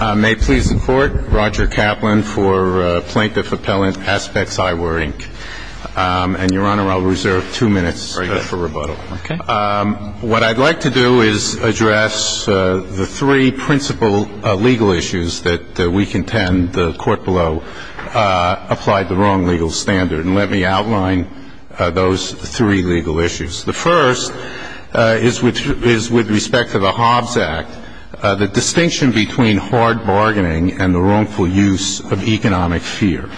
May it please the Court, Roger Kaplan for Plaintiff Appellant, Aspex Eyewear, Inc. And, Your Honor, I'll reserve two minutes for rebuttal. Okay. What I'd like to do is address the three principal legal issues that we contend the Court below applied the wrong legal standard. And let me outline those three legal issues. The first is with respect to the Hobbs Act, the distinction between hard bargaining and the wrongful use of economic fear.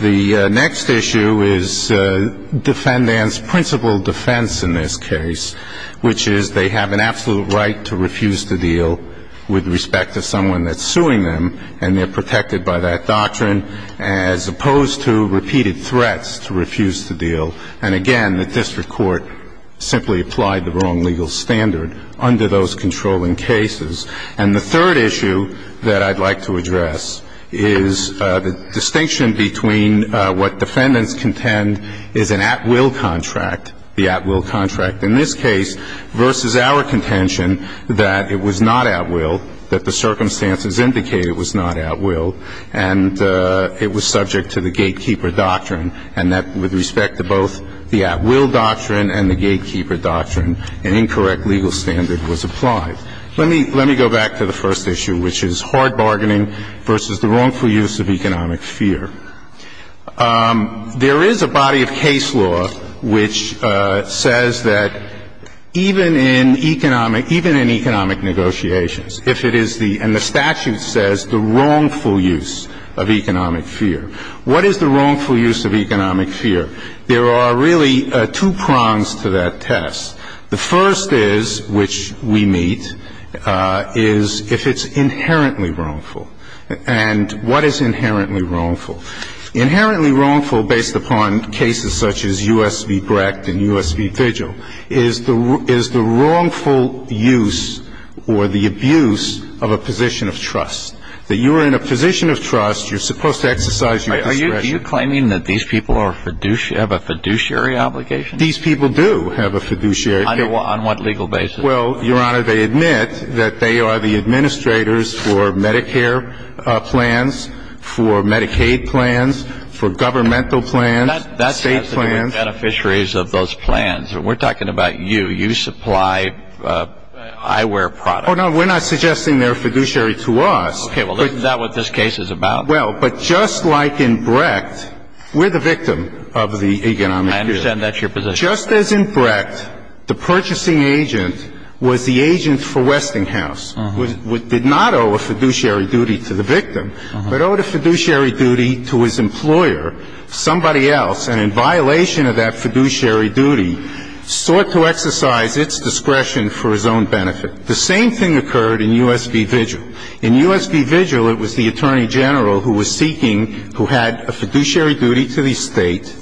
The next issue is defendant's principal defense in this case, which is they have an absolute right to refuse to deal with respect to someone that's suing them, and they're protected by that doctrine as opposed to repeated threats to refuse to deal. And, again, the district court simply applied the wrong legal standard under those controlling cases. And the third issue that I'd like to address is the distinction between what defendants contend is an at-will contract, the at-will contract in this case, versus our contention that it was not at-will, that the circumstances indicate it was not at-will, and it was subject to the gatekeeper doctrine, and that with respect to both the at-will doctrine and the gatekeeper doctrine, an incorrect legal standard was applied. Let me go back to the first issue, which is hard bargaining versus the wrongful use of economic fear. There is a body of case law which says that even in economic negotiations, if it is the – and the statute says the wrongful use of economic fear. What is the wrongful use of economic fear? There are really two prongs to that test. The first is, which we meet, is if it's inherently wrongful. And what is inherently wrongful? Inherently wrongful, based upon cases such as U.S. v. Brecht and U.S. v. Vigil, is the wrongful use or the abuse of a position of trust, that you are in a position of trust, you're supposed to exercise your discretion. Are you claiming that these people have a fiduciary obligation? These people do have a fiduciary obligation. On what legal basis? Well, Your Honor, they admit that they are the administrators for Medicare plans, for Medicaid plans, for governmental plans, state plans. That's not the beneficiaries of those plans. We're talking about you. You supply eyewear products. Oh, no. We're not suggesting they're fiduciary to us. Okay. Well, isn't that what this case is about? Well, but just like in Brecht, we're the victim of the economic fear. I understand that's your position. Just as in Brecht, the purchasing agent was the agent for Westinghouse, did not owe a fiduciary duty to the victim, but owed a fiduciary duty to his employer, somebody else, and in violation of that fiduciary duty, sought to exercise its discretion for his own benefit. The same thing occurred in U.S. v. Vigil. In U.S. v. Vigil, it was the attorney general who was seeking, who had a fiduciary duty to the state,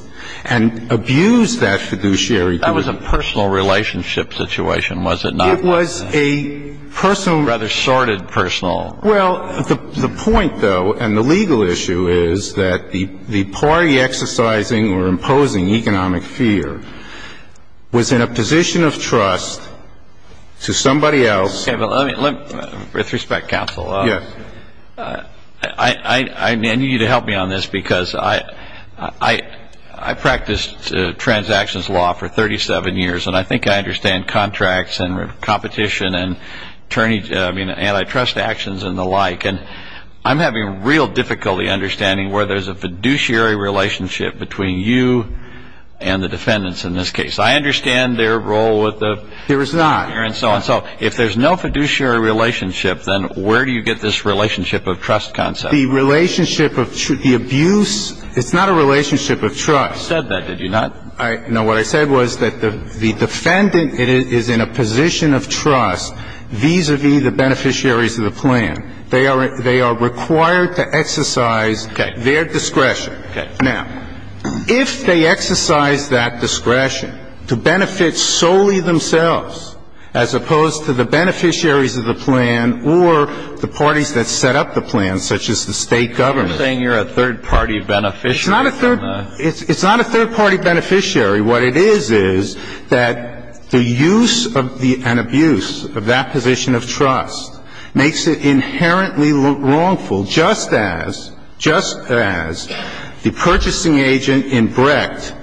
and abused that fiduciary duty. That was a personal relationship situation, was it not? It was a personal. Rather sordid personal. Well, the point, though, and the legal issue is that the party exercising or imposing economic fear was in a position of trust to somebody else. With respect, counsel, I need you to help me on this, because I practiced transactions law for 37 years, and I think I understand contracts and competition and antitrust actions and the like, and I'm having real difficulty understanding where there's a fiduciary relationship between you and the defendants in this case. I understand their role with the ---- There is not. So if there's no fiduciary relationship, then where do you get this relationship of trust concept? The relationship of the abuse, it's not a relationship of trust. You said that, did you not? No. What I said was that the defendant is in a position of trust vis-a-vis the beneficiaries of the plan. They are required to exercise their discretion. Okay. Now, if they exercise that discretion to benefit solely themselves, as opposed to the beneficiaries of the plan or the parties that set up the plan, such as the State government ---- You're saying you're a third-party beneficiary. It's not a third ---- It's not a third-party beneficiary. What it is is that the use of the ---- and abuse of that position of trust makes it inherently wrongful, just as the purchasing agent in Brecht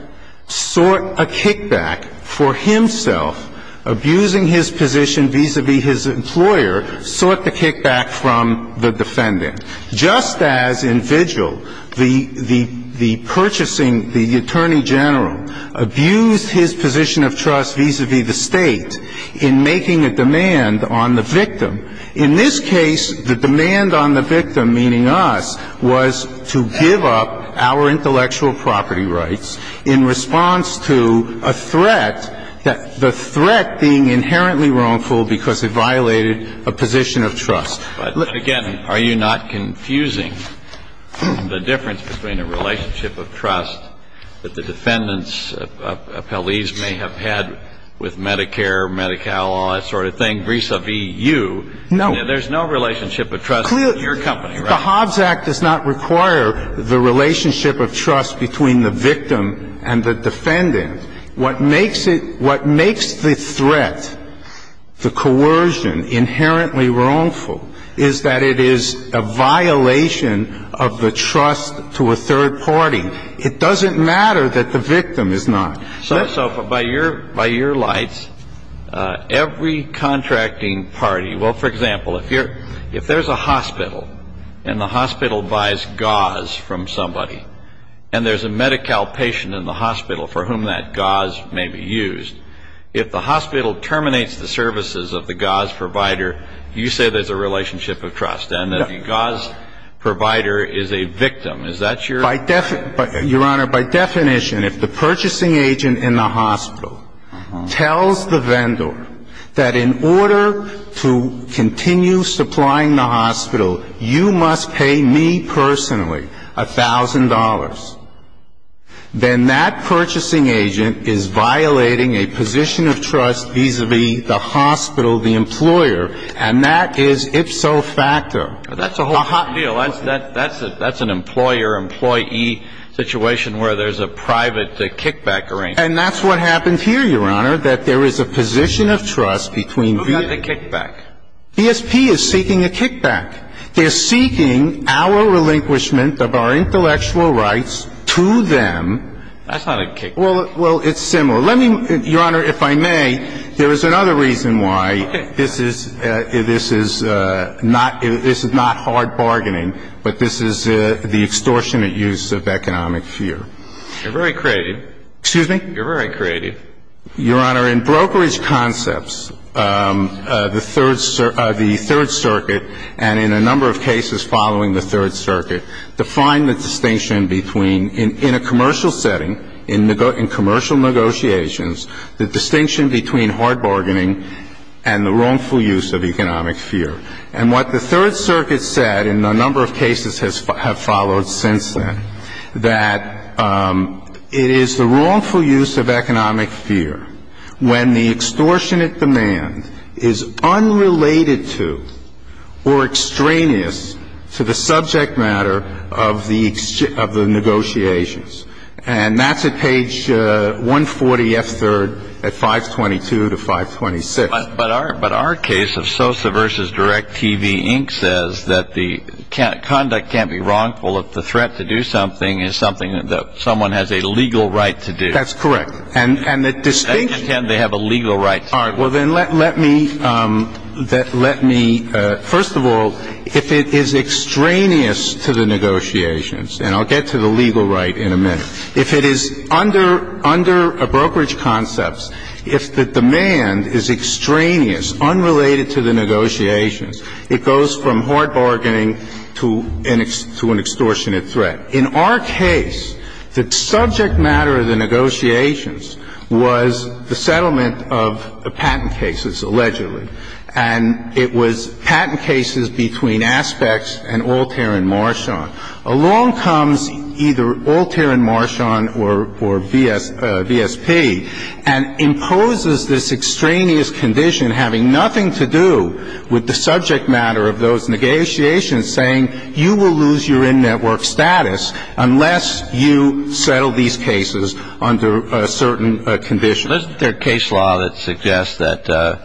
sought a kickback for himself, abusing his position vis-a-vis his employer, sought the kickback from the defendant, just as in Vigil the purchasing ---- the attorney general abused his position of trust vis-a-vis the State in making a demand on the victim. In this case, the demand on the victim, meaning us, was to give up our intellectual property rights in response to a threat, the threat being inherently wrongful because it violated a position of trust. But again, are you not confusing the difference between a relationship of trust that the defendant's appellees may have had with Medicare, Medi-Cal, all that sort of thing, vis-a-vis you? No. There's no relationship of trust in your company, right? The Hobbs Act does not require the relationship of trust between the victim and the defendant. What makes it ---- what makes the threat, the coercion, inherently wrongful is that it is a violation of the trust to a third party. It doesn't matter that the victim is not. So by your lights, every contracting party ---- well, for example, if there's a hospital and the hospital buys gauze from somebody and there's a Medi-Cal patient in the hospital for whom that gauze may be used, if the hospital terminates the services of the gauze provider, you say there's a relationship of trust and that the gauze provider is a victim. Is that your ---- Your Honor, by definition, if the purchasing agent in the hospital tells the vendor that in order to continue supplying the hospital, you must pay me personally $1,000, then that purchasing agent is violating a position of trust vis-a-vis the hospital, the employer. And that is ipso facto. And that's what happens here, Your Honor, that there is a position of trust between the ---- Moving on to kickback. BSP is seeking a kickback. They're seeking our relinquishment of our intellectual rights to them. That's not a kickback. Well, it's similar. Let me, Your Honor, if I may, there is another reason why this is not ---- this is not hard bargaining, but this is the extortionate use of economic fear. You're very creative. Excuse me? You're very creative. Your Honor, in brokerage concepts, the Third Circuit, and in a number of cases following the Third Circuit, define the distinction between, in a commercial setting, in commercial negotiations, the distinction between hard bargaining and the wrongful use of economic fear. And what the Third Circuit said in a number of cases have followed since then, that it is the wrongful use of economic fear when the extortionate demand is unrelated to or extraneous to the subject matter of the negotiations. And that's at page 140, F3rd, at 522 to 526. But our case of Sosa v. Direct TV Inc. says that the conduct can't be wrongful if the threat to do something is something that someone has a legal right to do. That's correct. And the distinction ---- They pretend they have a legal right to do it. All right. Well, then let me ---- first of all, if it is extraneous to the negotiations, and I'll get to the legal right in a minute, if it is under brokerage concepts, if the demand is extraneous, unrelated to the negotiations, it goes from hard bargaining to an extortionate threat. In our case, the subject matter of the negotiations was the settlement of the patent cases, allegedly. And it was patent cases between Aspects and Altair and Marchand. Along comes either Altair and Marchand or VSP and imposes this extraneous condition having nothing to do with the subject matter of those negotiations, saying you will lose your in-network status unless you settle these cases under a certain condition. Isn't there a case law that suggests that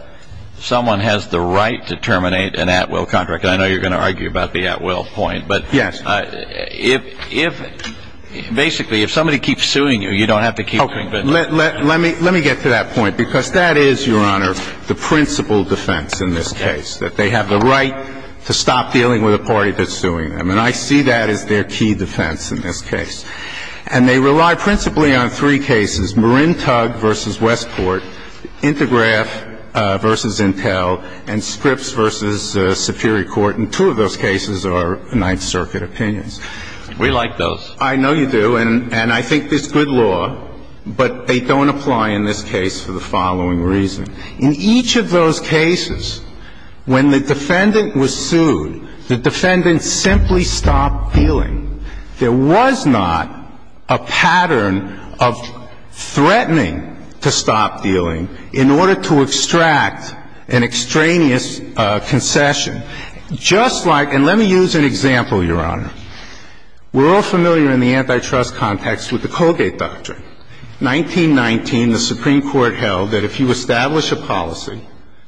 someone has the right to terminate an at-will contract? And I know you're going to argue about the at-will point. Yes. But if ---- basically, if somebody keeps suing you, you don't have to keep doing business. Let me get to that point, because that is, Your Honor, the principal defense in this case, that they have the right to stop dealing with a party that's suing them. And I see that as their key defense in this case. And they rely principally on three cases, Marin Tug v. Westport, Intergraph v. Intel, and Scripps v. Superior Court. And two of those cases are Ninth Circuit opinions. We like those. I know you do. And I think it's good law, but they don't apply in this case for the following reason. In each of those cases, when the defendant was sued, the defendant simply stopped dealing. There was not a pattern of threatening to stop dealing in order to extract an extraneous concession. Just like ---- and let me use an example, Your Honor. We're all familiar in the antitrust context with the Colgate Doctrine. 1919, the Supreme Court held that if you establish a policy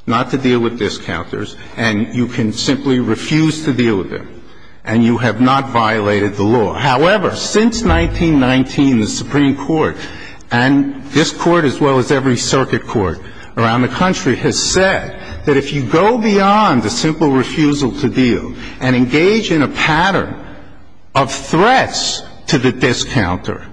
not to deal with discounters, and you can simply refuse to deal with them, and you have not violated the law. However, since 1919, the Supreme Court, and this Court as well as every circuit court around the country, has said that if you go beyond the simple refusal to deal and engage in a pattern of threats to the discounter,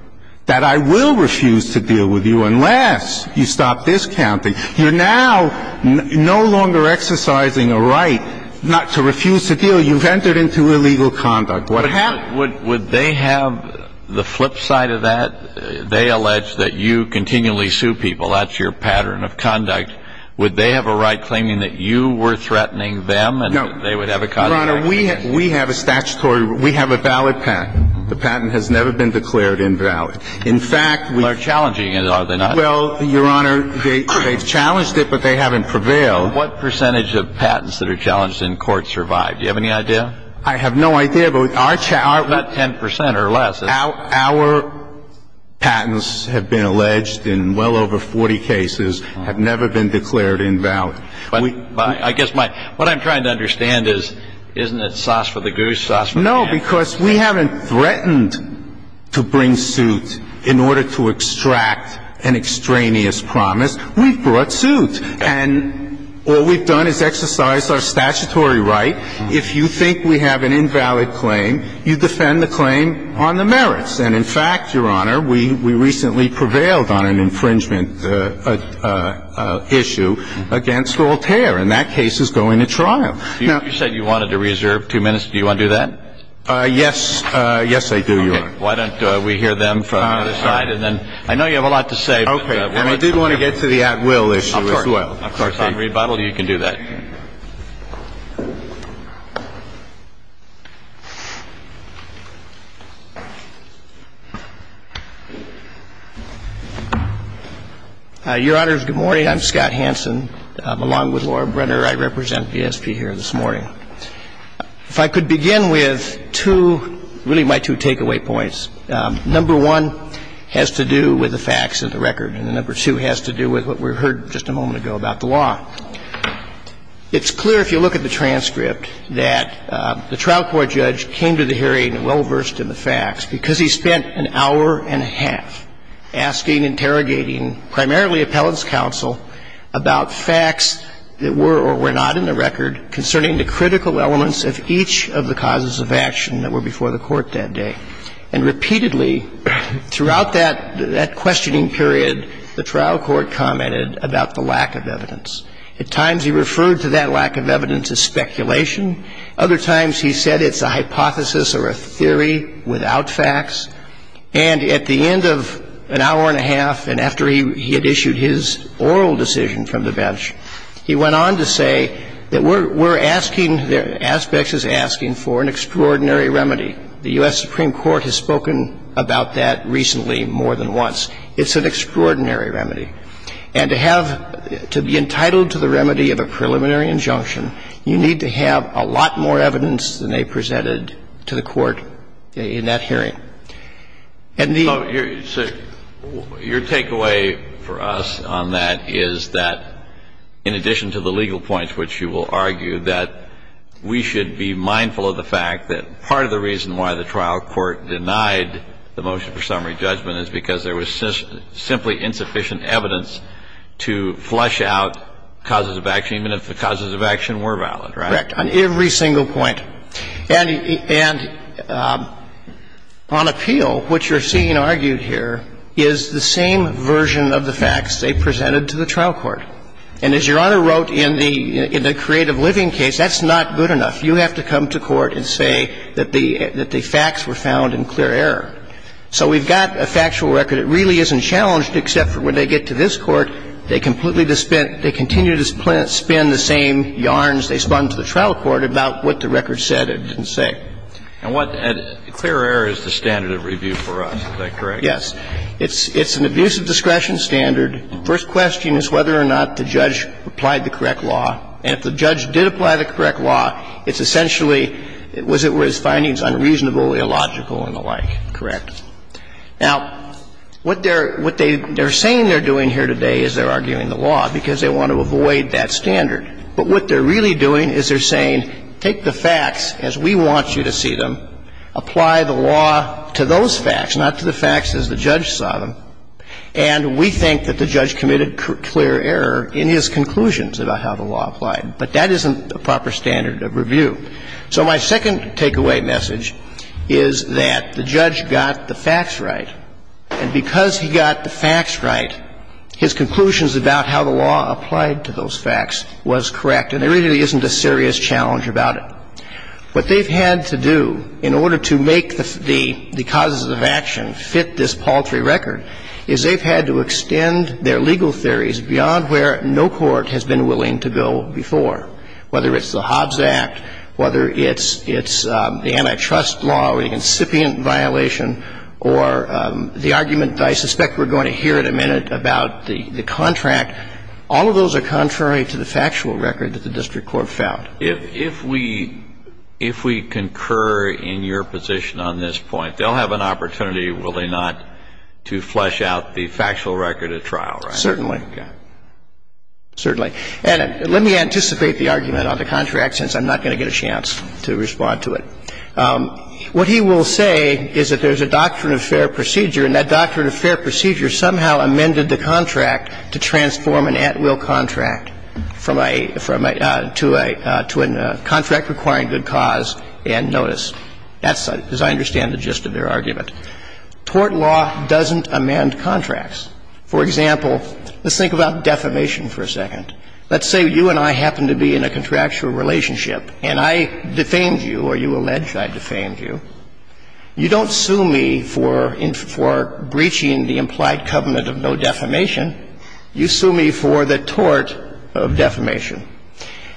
that I will refuse to deal with you unless you stop discounting. You're now no longer exercising a right not to refuse to deal. You've entered into illegal conduct. What happens? Would they have the flip side of that? They allege that you continually sue people. That's your pattern of conduct. Would they have a right claiming that you were threatening them and that they would have a copyright? No. Your Honor, we have a statutory ---- we have a valid patent. The patent has never been declared invalid. In fact, we ---- They're challenging it, are they not? Well, Your Honor, they've challenged it, but they haven't prevailed. What percentage of patents that are challenged in court survived? Do you have any idea? I have no idea, but our ---- About 10 percent or less. Our patents have been alleged in well over 40 cases, have never been declared invalid. I guess my ---- what I'm trying to understand is, isn't it sauce for the goose? No, because we haven't threatened to bring suit in order to extract an extraneous promise. We've brought suit. And what we've done is exercise our statutory right. If you think we have an invalid claim, you defend the claim on the merits. And in fact, Your Honor, we recently prevailed on an infringement issue against Voltaire. And that case is going to trial. Now ---- You said you wanted to reserve two minutes. Do you want to do that? Yes. Yes, I do, Your Honor. Okay. Why don't we hear them from the other side and then ---- I know you have a lot to say, but ---- Okay. And I did want to get to the at-will issue as well. Of course. If I can rebuttal, you can do that. Your Honor, good morning. I'm Scott Hanson. Along with Laura Brenner, I represent VSP here this morning. If I could begin with two, really my two takeaway points. Number one has to do with the facts of the record. And number two has to do with what we heard just a moment ago about the law. It's clear if you look at the transcript that the trial court judge came to the hearing well versed in the facts because he spent an hour and a half asking, interrogating, primarily appellant's counsel, about facts that were or were not in the record concerning the critical elements of each of the causes of action that were before the Court that day. And repeatedly, throughout that questioning period, the trial court commented about the lack of evidence. At times he referred to that lack of evidence as speculation. Other times he said it's a hypothesis or a theory without facts. And at the end of an hour and a half and after he had issued his oral decision from the bench, he went on to say that we're asking ---- The U.S. Supreme Court has spoken about that recently more than once. It's an extraordinary remedy. And to have to be entitled to the remedy of a preliminary injunction, you need to have a lot more evidence than they presented to the Court in that hearing. And the ---- So your takeaway for us on that is that, in addition to the legal points which you will argue, that we should be mindful of the fact that part of the reason why the trial court denied the motion for summary judgment is because there was simply insufficient evidence to flush out causes of action, even if the causes of action were valid, right? Correct. On every single point. And on appeal, what you're seeing argued here is the same version of the facts they presented to the trial court. And as Your Honor wrote in the Creative Living case, that's not good enough. You have to come to court and say that the facts were found in clear error. So we've got a factual record. It really isn't challenged, except for when they get to this Court, they completely dispense ---- they continue to spin the same yarns they spun to the trial court about what the record said and didn't say. And what ---- clear error is the standard of review for us. Is that correct? Yes. It's an abuse of discretion standard. First question is whether or not the judge applied the correct law. And if the judge did apply the correct law, it's essentially, was it where his findings unreasonable, illogical, and the like. Correct. Now, what they're saying they're doing here today is they're arguing the law because they want to avoid that standard. But what they're really doing is they're saying, take the facts as we want you to see them, apply the law to those facts, not to the facts as the judge saw them, and we think that the judge committed clear error in his conclusions about how the law applied. But that isn't a proper standard of review. So my second takeaway message is that the judge got the facts right, and because he got the facts right, his conclusions about how the law applied to those facts was correct. And there really isn't a serious challenge about it. What they've had to do in order to make the causes of action fit this paltry record is they've had to extend their legal theories beyond where no court has been willing to go before, whether it's the Hobbs Act, whether it's the antitrust law, the incipient violation, or the argument that I suspect we're going to hear in a minute about the contract. All of those are contrary to the factual record that the district court found. If we concur in your position on this point, they'll have an opportunity, will they not, to flesh out the factual record at trial, right? Certainly. Certainly. And let me anticipate the argument on the contract, since I'm not going to get a chance to respond to it. What he will say is that there's a doctrine of fair procedure, and that doctrine of fair procedure somehow amended the contract to transform an at-will contract from a – to a – to a contract requiring good cause and notice. That's, as I understand, the gist of their argument. Tort law doesn't amend contracts. For example, let's think about defamation for a second. Let's say you and I happen to be in a contractual relationship, and I defamed you, or you allege I defamed you. You don't sue me for – for breaching the implied covenant of no defamation. You sue me for the tort of defamation.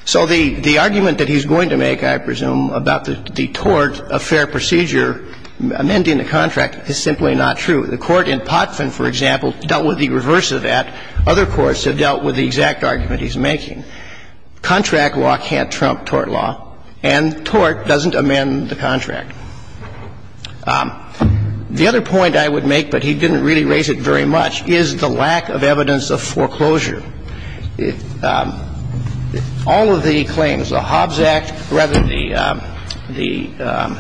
So the – the argument that he's going to make, I presume, about the tort of fair procedure amending the contract is simply not true. The court in Potvin, for example, dealt with the reverse of that. Other courts have dealt with the exact argument he's making. Contract law can't trump tort law, and tort doesn't amend the contract. The other point I would make, but he didn't really raise it very much, is the lack of evidence of foreclosure. All of the claims, the Hobbs Act, rather the – the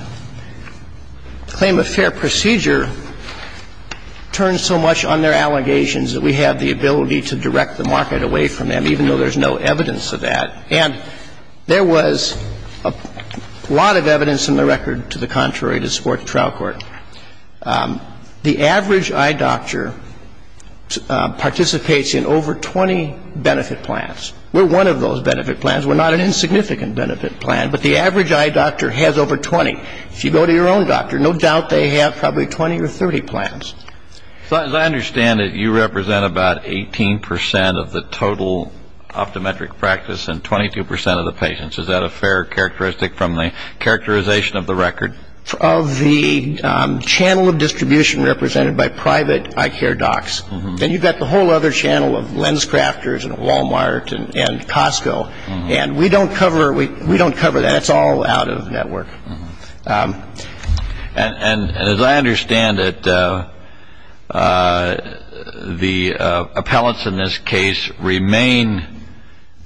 claim of fair procedure turns so much on their allegations that we have the ability to direct the market away from them, even though there's no evidence of that. And there was a lot of evidence in the record to the contrary to support the trial court. The average eye doctor participates in over 20 benefit plans. We're one of those benefit plans. We're not an insignificant benefit plan, but the average eye doctor has over 20. If you go to your own doctor, no doubt they have probably 20 or 30 plans. So as I understand it, you represent about 18% of the total optometric practice and 22% of the patients. Is that a fair characteristic from the characterization of the record? Fair. Of the channel of distribution represented by private eye care docs. And you've got the whole other channel of lens crafters and Wal-Mart and Costco. And we don't cover – we don't cover that. It's all out of network. And as I understand it, the appellants in this case remain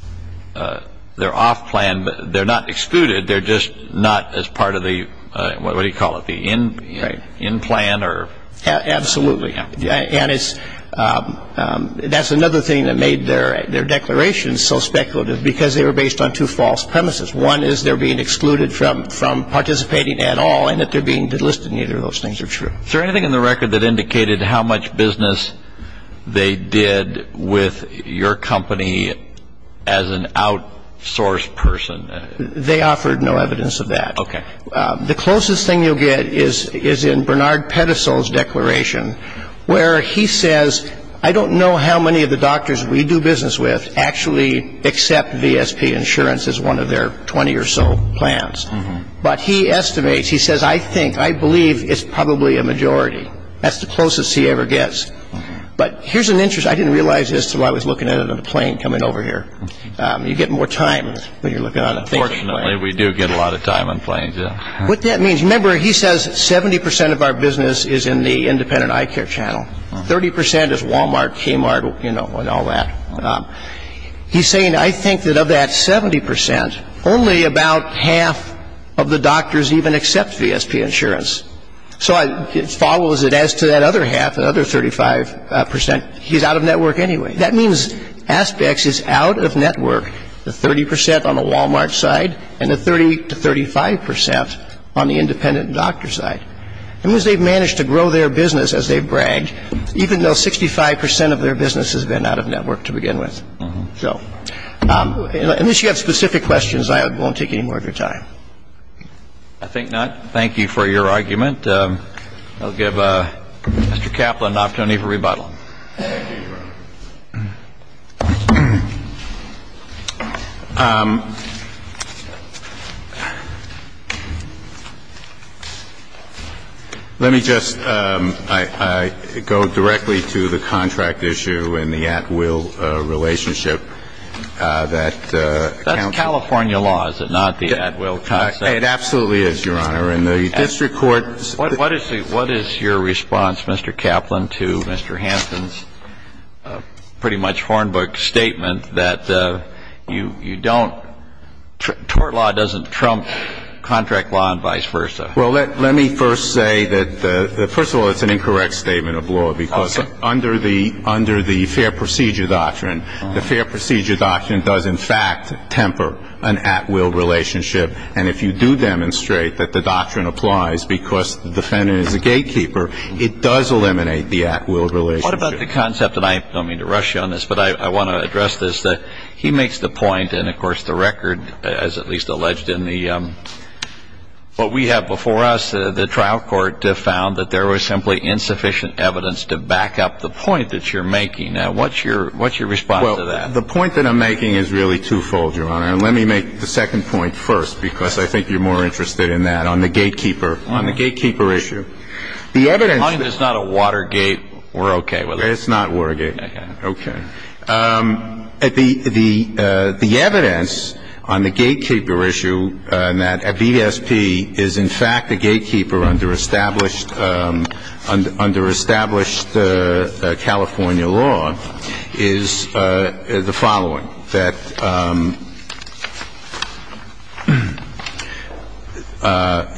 – they're off plan, but they're not excluded. They're just not as part of the – what do you call it? The in plan or – Absolutely. And it's – that's another thing that made their declaration so speculative because they were based on two false premises. One is they're being excluded from participating at all and that they're being delisted. Neither of those things are true. Is there anything in the record that indicated how much business they did with your company as an outsourced person? They offered no evidence of that. Okay. The closest thing you'll get is in Bernard Pedesel's declaration where he says, I don't know how many of the doctors we do business with actually accept VSP insurance as one of their 20 or so plans. But he estimates – he says, I think, I believe it's probably a majority. That's the closest he ever gets. But here's an interest I didn't realize as to why I was looking at it on a plane coming over here. You get more time when you're looking on a thinking plane. Fortunately, we do get a lot of time on planes, yeah. What that means – remember, he says 70% of our business is in the independent eye care channel. 30% is Walmart, Kmart, you know, and all that. He's saying, I think that of that 70%, only about half of the doctors even accept VSP insurance. So it follows that as to that other half, that other 35%, he's out of network anyway. That means Aspex is out of network, the 30% on the Walmart side and the 30 to 35% on the independent doctor side. It means they've managed to grow their business as they've bragged, even though 65% of their business has been out of network to begin with. So unless you have specific questions, I won't take any more of your time. I think not. Thank you for your argument. I'll give Mr. Kaplan an opportunity for rebuttal. Thank you, Your Honor. Let me just go directly to the contract issue and the at-will relationship that counts. That's California law, is it not, the at-will concept? It absolutely is, Your Honor. What is your response, Mr. Kaplan, to Mr. Hansen's pretty much hornbook statement that you don't – tort law doesn't trump contract law and vice versa? Well, let me first say that, first of all, it's an incorrect statement of law because under the fair procedure doctrine, the fair procedure doctrine does in fact temper an at-will relationship. And if you do demonstrate that the doctrine applies because the defendant is a gatekeeper, it does eliminate the at-will relationship. What about the concept – and I don't mean to rush you on this, but I want to address this – that he makes the point and, of course, the record, as at least alleged in the – what we have before us, the trial court, found that there was simply insufficient evidence to back up the point that you're making. Now, what's your response to that? Well, the point that I'm making is really twofold, Your Honor. Let me make the second point first because I think you're more interested in that, on the gatekeeper – on the gatekeeper issue. The evidence – As long as it's not a Watergate, we're okay with it. It's not Watergate. Okay. Okay. The evidence on the gatekeeper issue and that a VSP is in fact a gatekeeper under established – under established California law is the following, that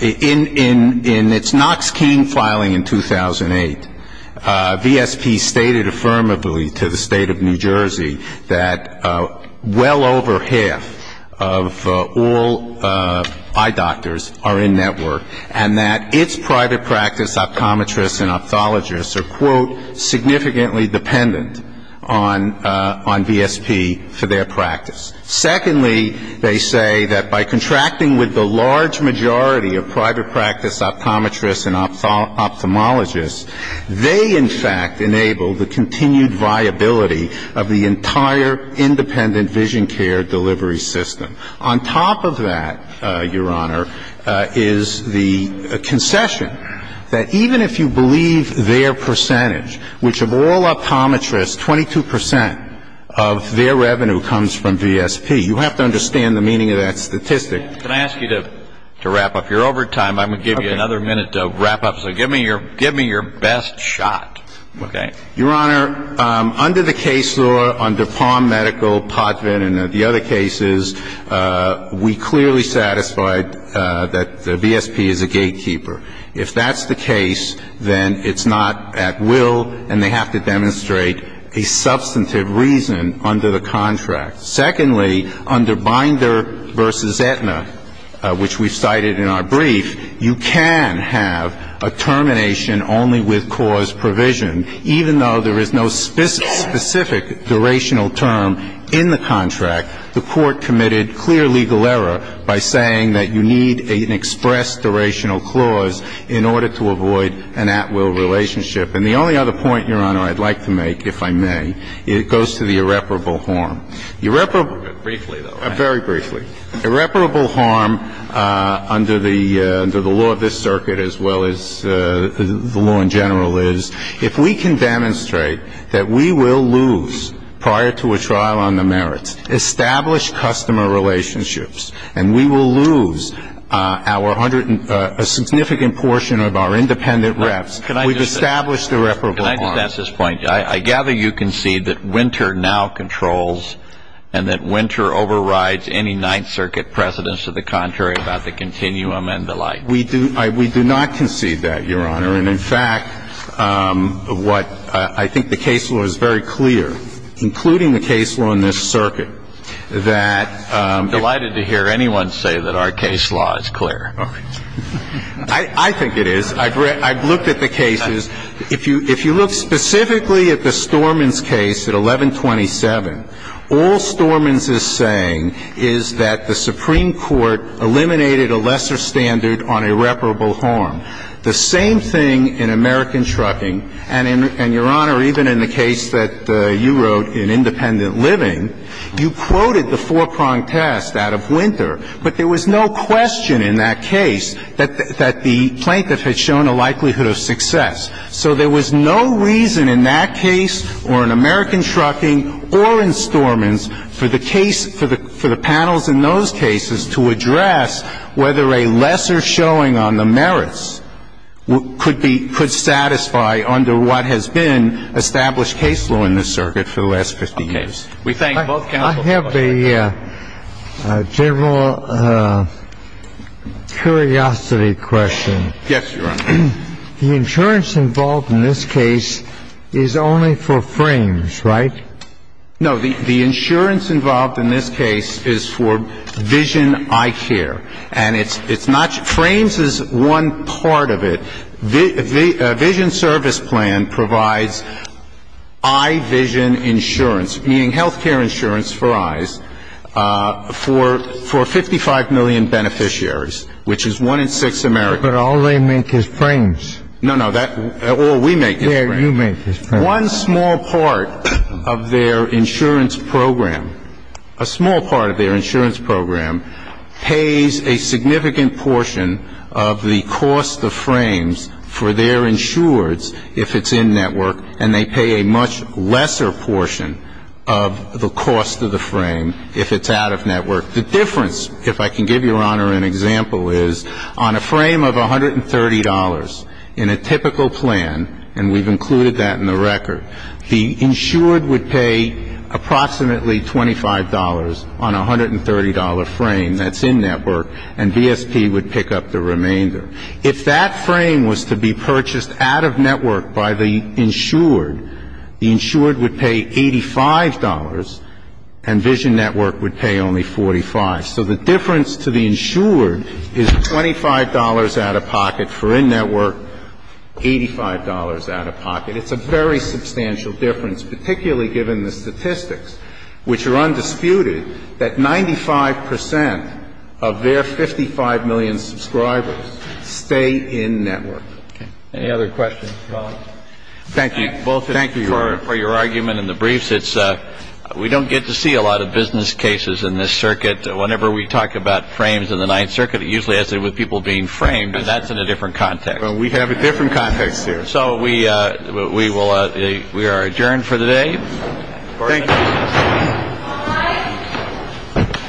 in its Knox-King filing in 2008, VSP stated affirmably to the State of New Jersey that well over half of all eye doctors are in network and that its private practice optometrists and ophthalmologists are, quote, significantly dependent on VSP for their practice. Secondly, they say that by contracting with the large majority of private practice optometrists and ophthalmologists, they in fact enable the continued viability of the entire independent vision care delivery system. On top of that, Your Honor, is the concession that even if you believe their percentage, which of all optometrists, 22 percent of their revenue comes from VSP. You have to understand the meaning of that statistic. Can I ask you to wrap up? You're over time. I'm going to give you another minute to wrap up, so give me your best shot. Okay. Your Honor, under the case law, under Palm Medical, Potvin, and the other cases, we clearly satisfied that the VSP is a gatekeeper. If that's the case, then it's not at will and they have to demonstrate a substantive reason under the contract. Secondly, under Binder v. Aetna, which we've cited in our brief, you can have a termination only with cause provision, even though there is no specific durational term in the contract. The court committed clear legal error by saying that you need an express durational clause in order to avoid an at-will relationship. And the only other point, Your Honor, I'd like to make, if I may, it goes to the irreparable harm. Briefly, though. Very briefly. Irreparable harm under the law of this circuit, as well as the law in general, is if we can demonstrate that we will lose, prior to a trial on the merits, established customer relationships, and we will lose a significant portion of our independent reps, we've established irreparable harm. Can I just add to this point? I gather you concede that Winter now controls and that Winter overrides any Ninth Circuit precedents to the contrary about the continuum and the like. We do not concede that, Your Honor. And, in fact, what I think the case law is very clear, including the case law in this circuit, that ---- I'm delighted to hear anyone say that our case law is clear. Okay. I think it is. I've looked at the cases. If you look specifically at the Stormins case at 1127, all Stormins is saying is that the Supreme Court eliminated a lesser standard on irreparable harm. The same thing in American Trucking. And, Your Honor, even in the case that you wrote in Independent Living, you quoted the four-pronged test out of Winter. But there was no question in that case that the plaintiff had shown a likelihood of success. So there was no reason in that case or in American Trucking or in Stormins for the case ---- for the panels in those cases to address whether a lesser showing on the merits could be ---- could satisfy under what has been established case law in this circuit for the last 15 years. We thank both counsels. I have a general curiosity question. Yes, Your Honor. The insurance involved in this case is only for frames, right? No. The insurance involved in this case is for vision eye care. And it's not ---- frames is one part of it. A vision service plan provides eye vision insurance, meaning health care insurance for eyes, for 55 million beneficiaries, which is one in six Americans. But all they make is frames. No, no. All we make is frames. Yeah, you make is frames. One small part of their insurance program, a small part of their insurance program pays a significant portion of the cost of frames for their insureds if it's in-network, and they pay a much lesser portion of the cost of the frame if it's out-of-network. The difference, if I can give Your Honor an example, is on a frame of $130 in a typical plan, and we've included that in the record, the insured would pay approximately $25 on a $130 frame that's in-network, and BSP would pick up the remainder. If that frame was to be purchased out-of-network by the insured, the insured would pay $85 and vision network would pay only $45. So the difference to the insured is $25 out-of-pocket for in-network, $85 out-of-pocket. It's a very substantial difference, particularly given the statistics, which are undisputed, that 95 percent of their 55 million subscribers stay in-network. Okay. Any other questions, Your Honor? Thank you. Thank you, Your Honor. Both for your argument in the briefs. It's we don't get to see a lot of business cases in this circuit. Whenever we talk about frames in the Ninth Circuit, it usually has to do with people being framed, and that's in a different context. Well, we have a different context here. So we are adjourned for the day. Thank you.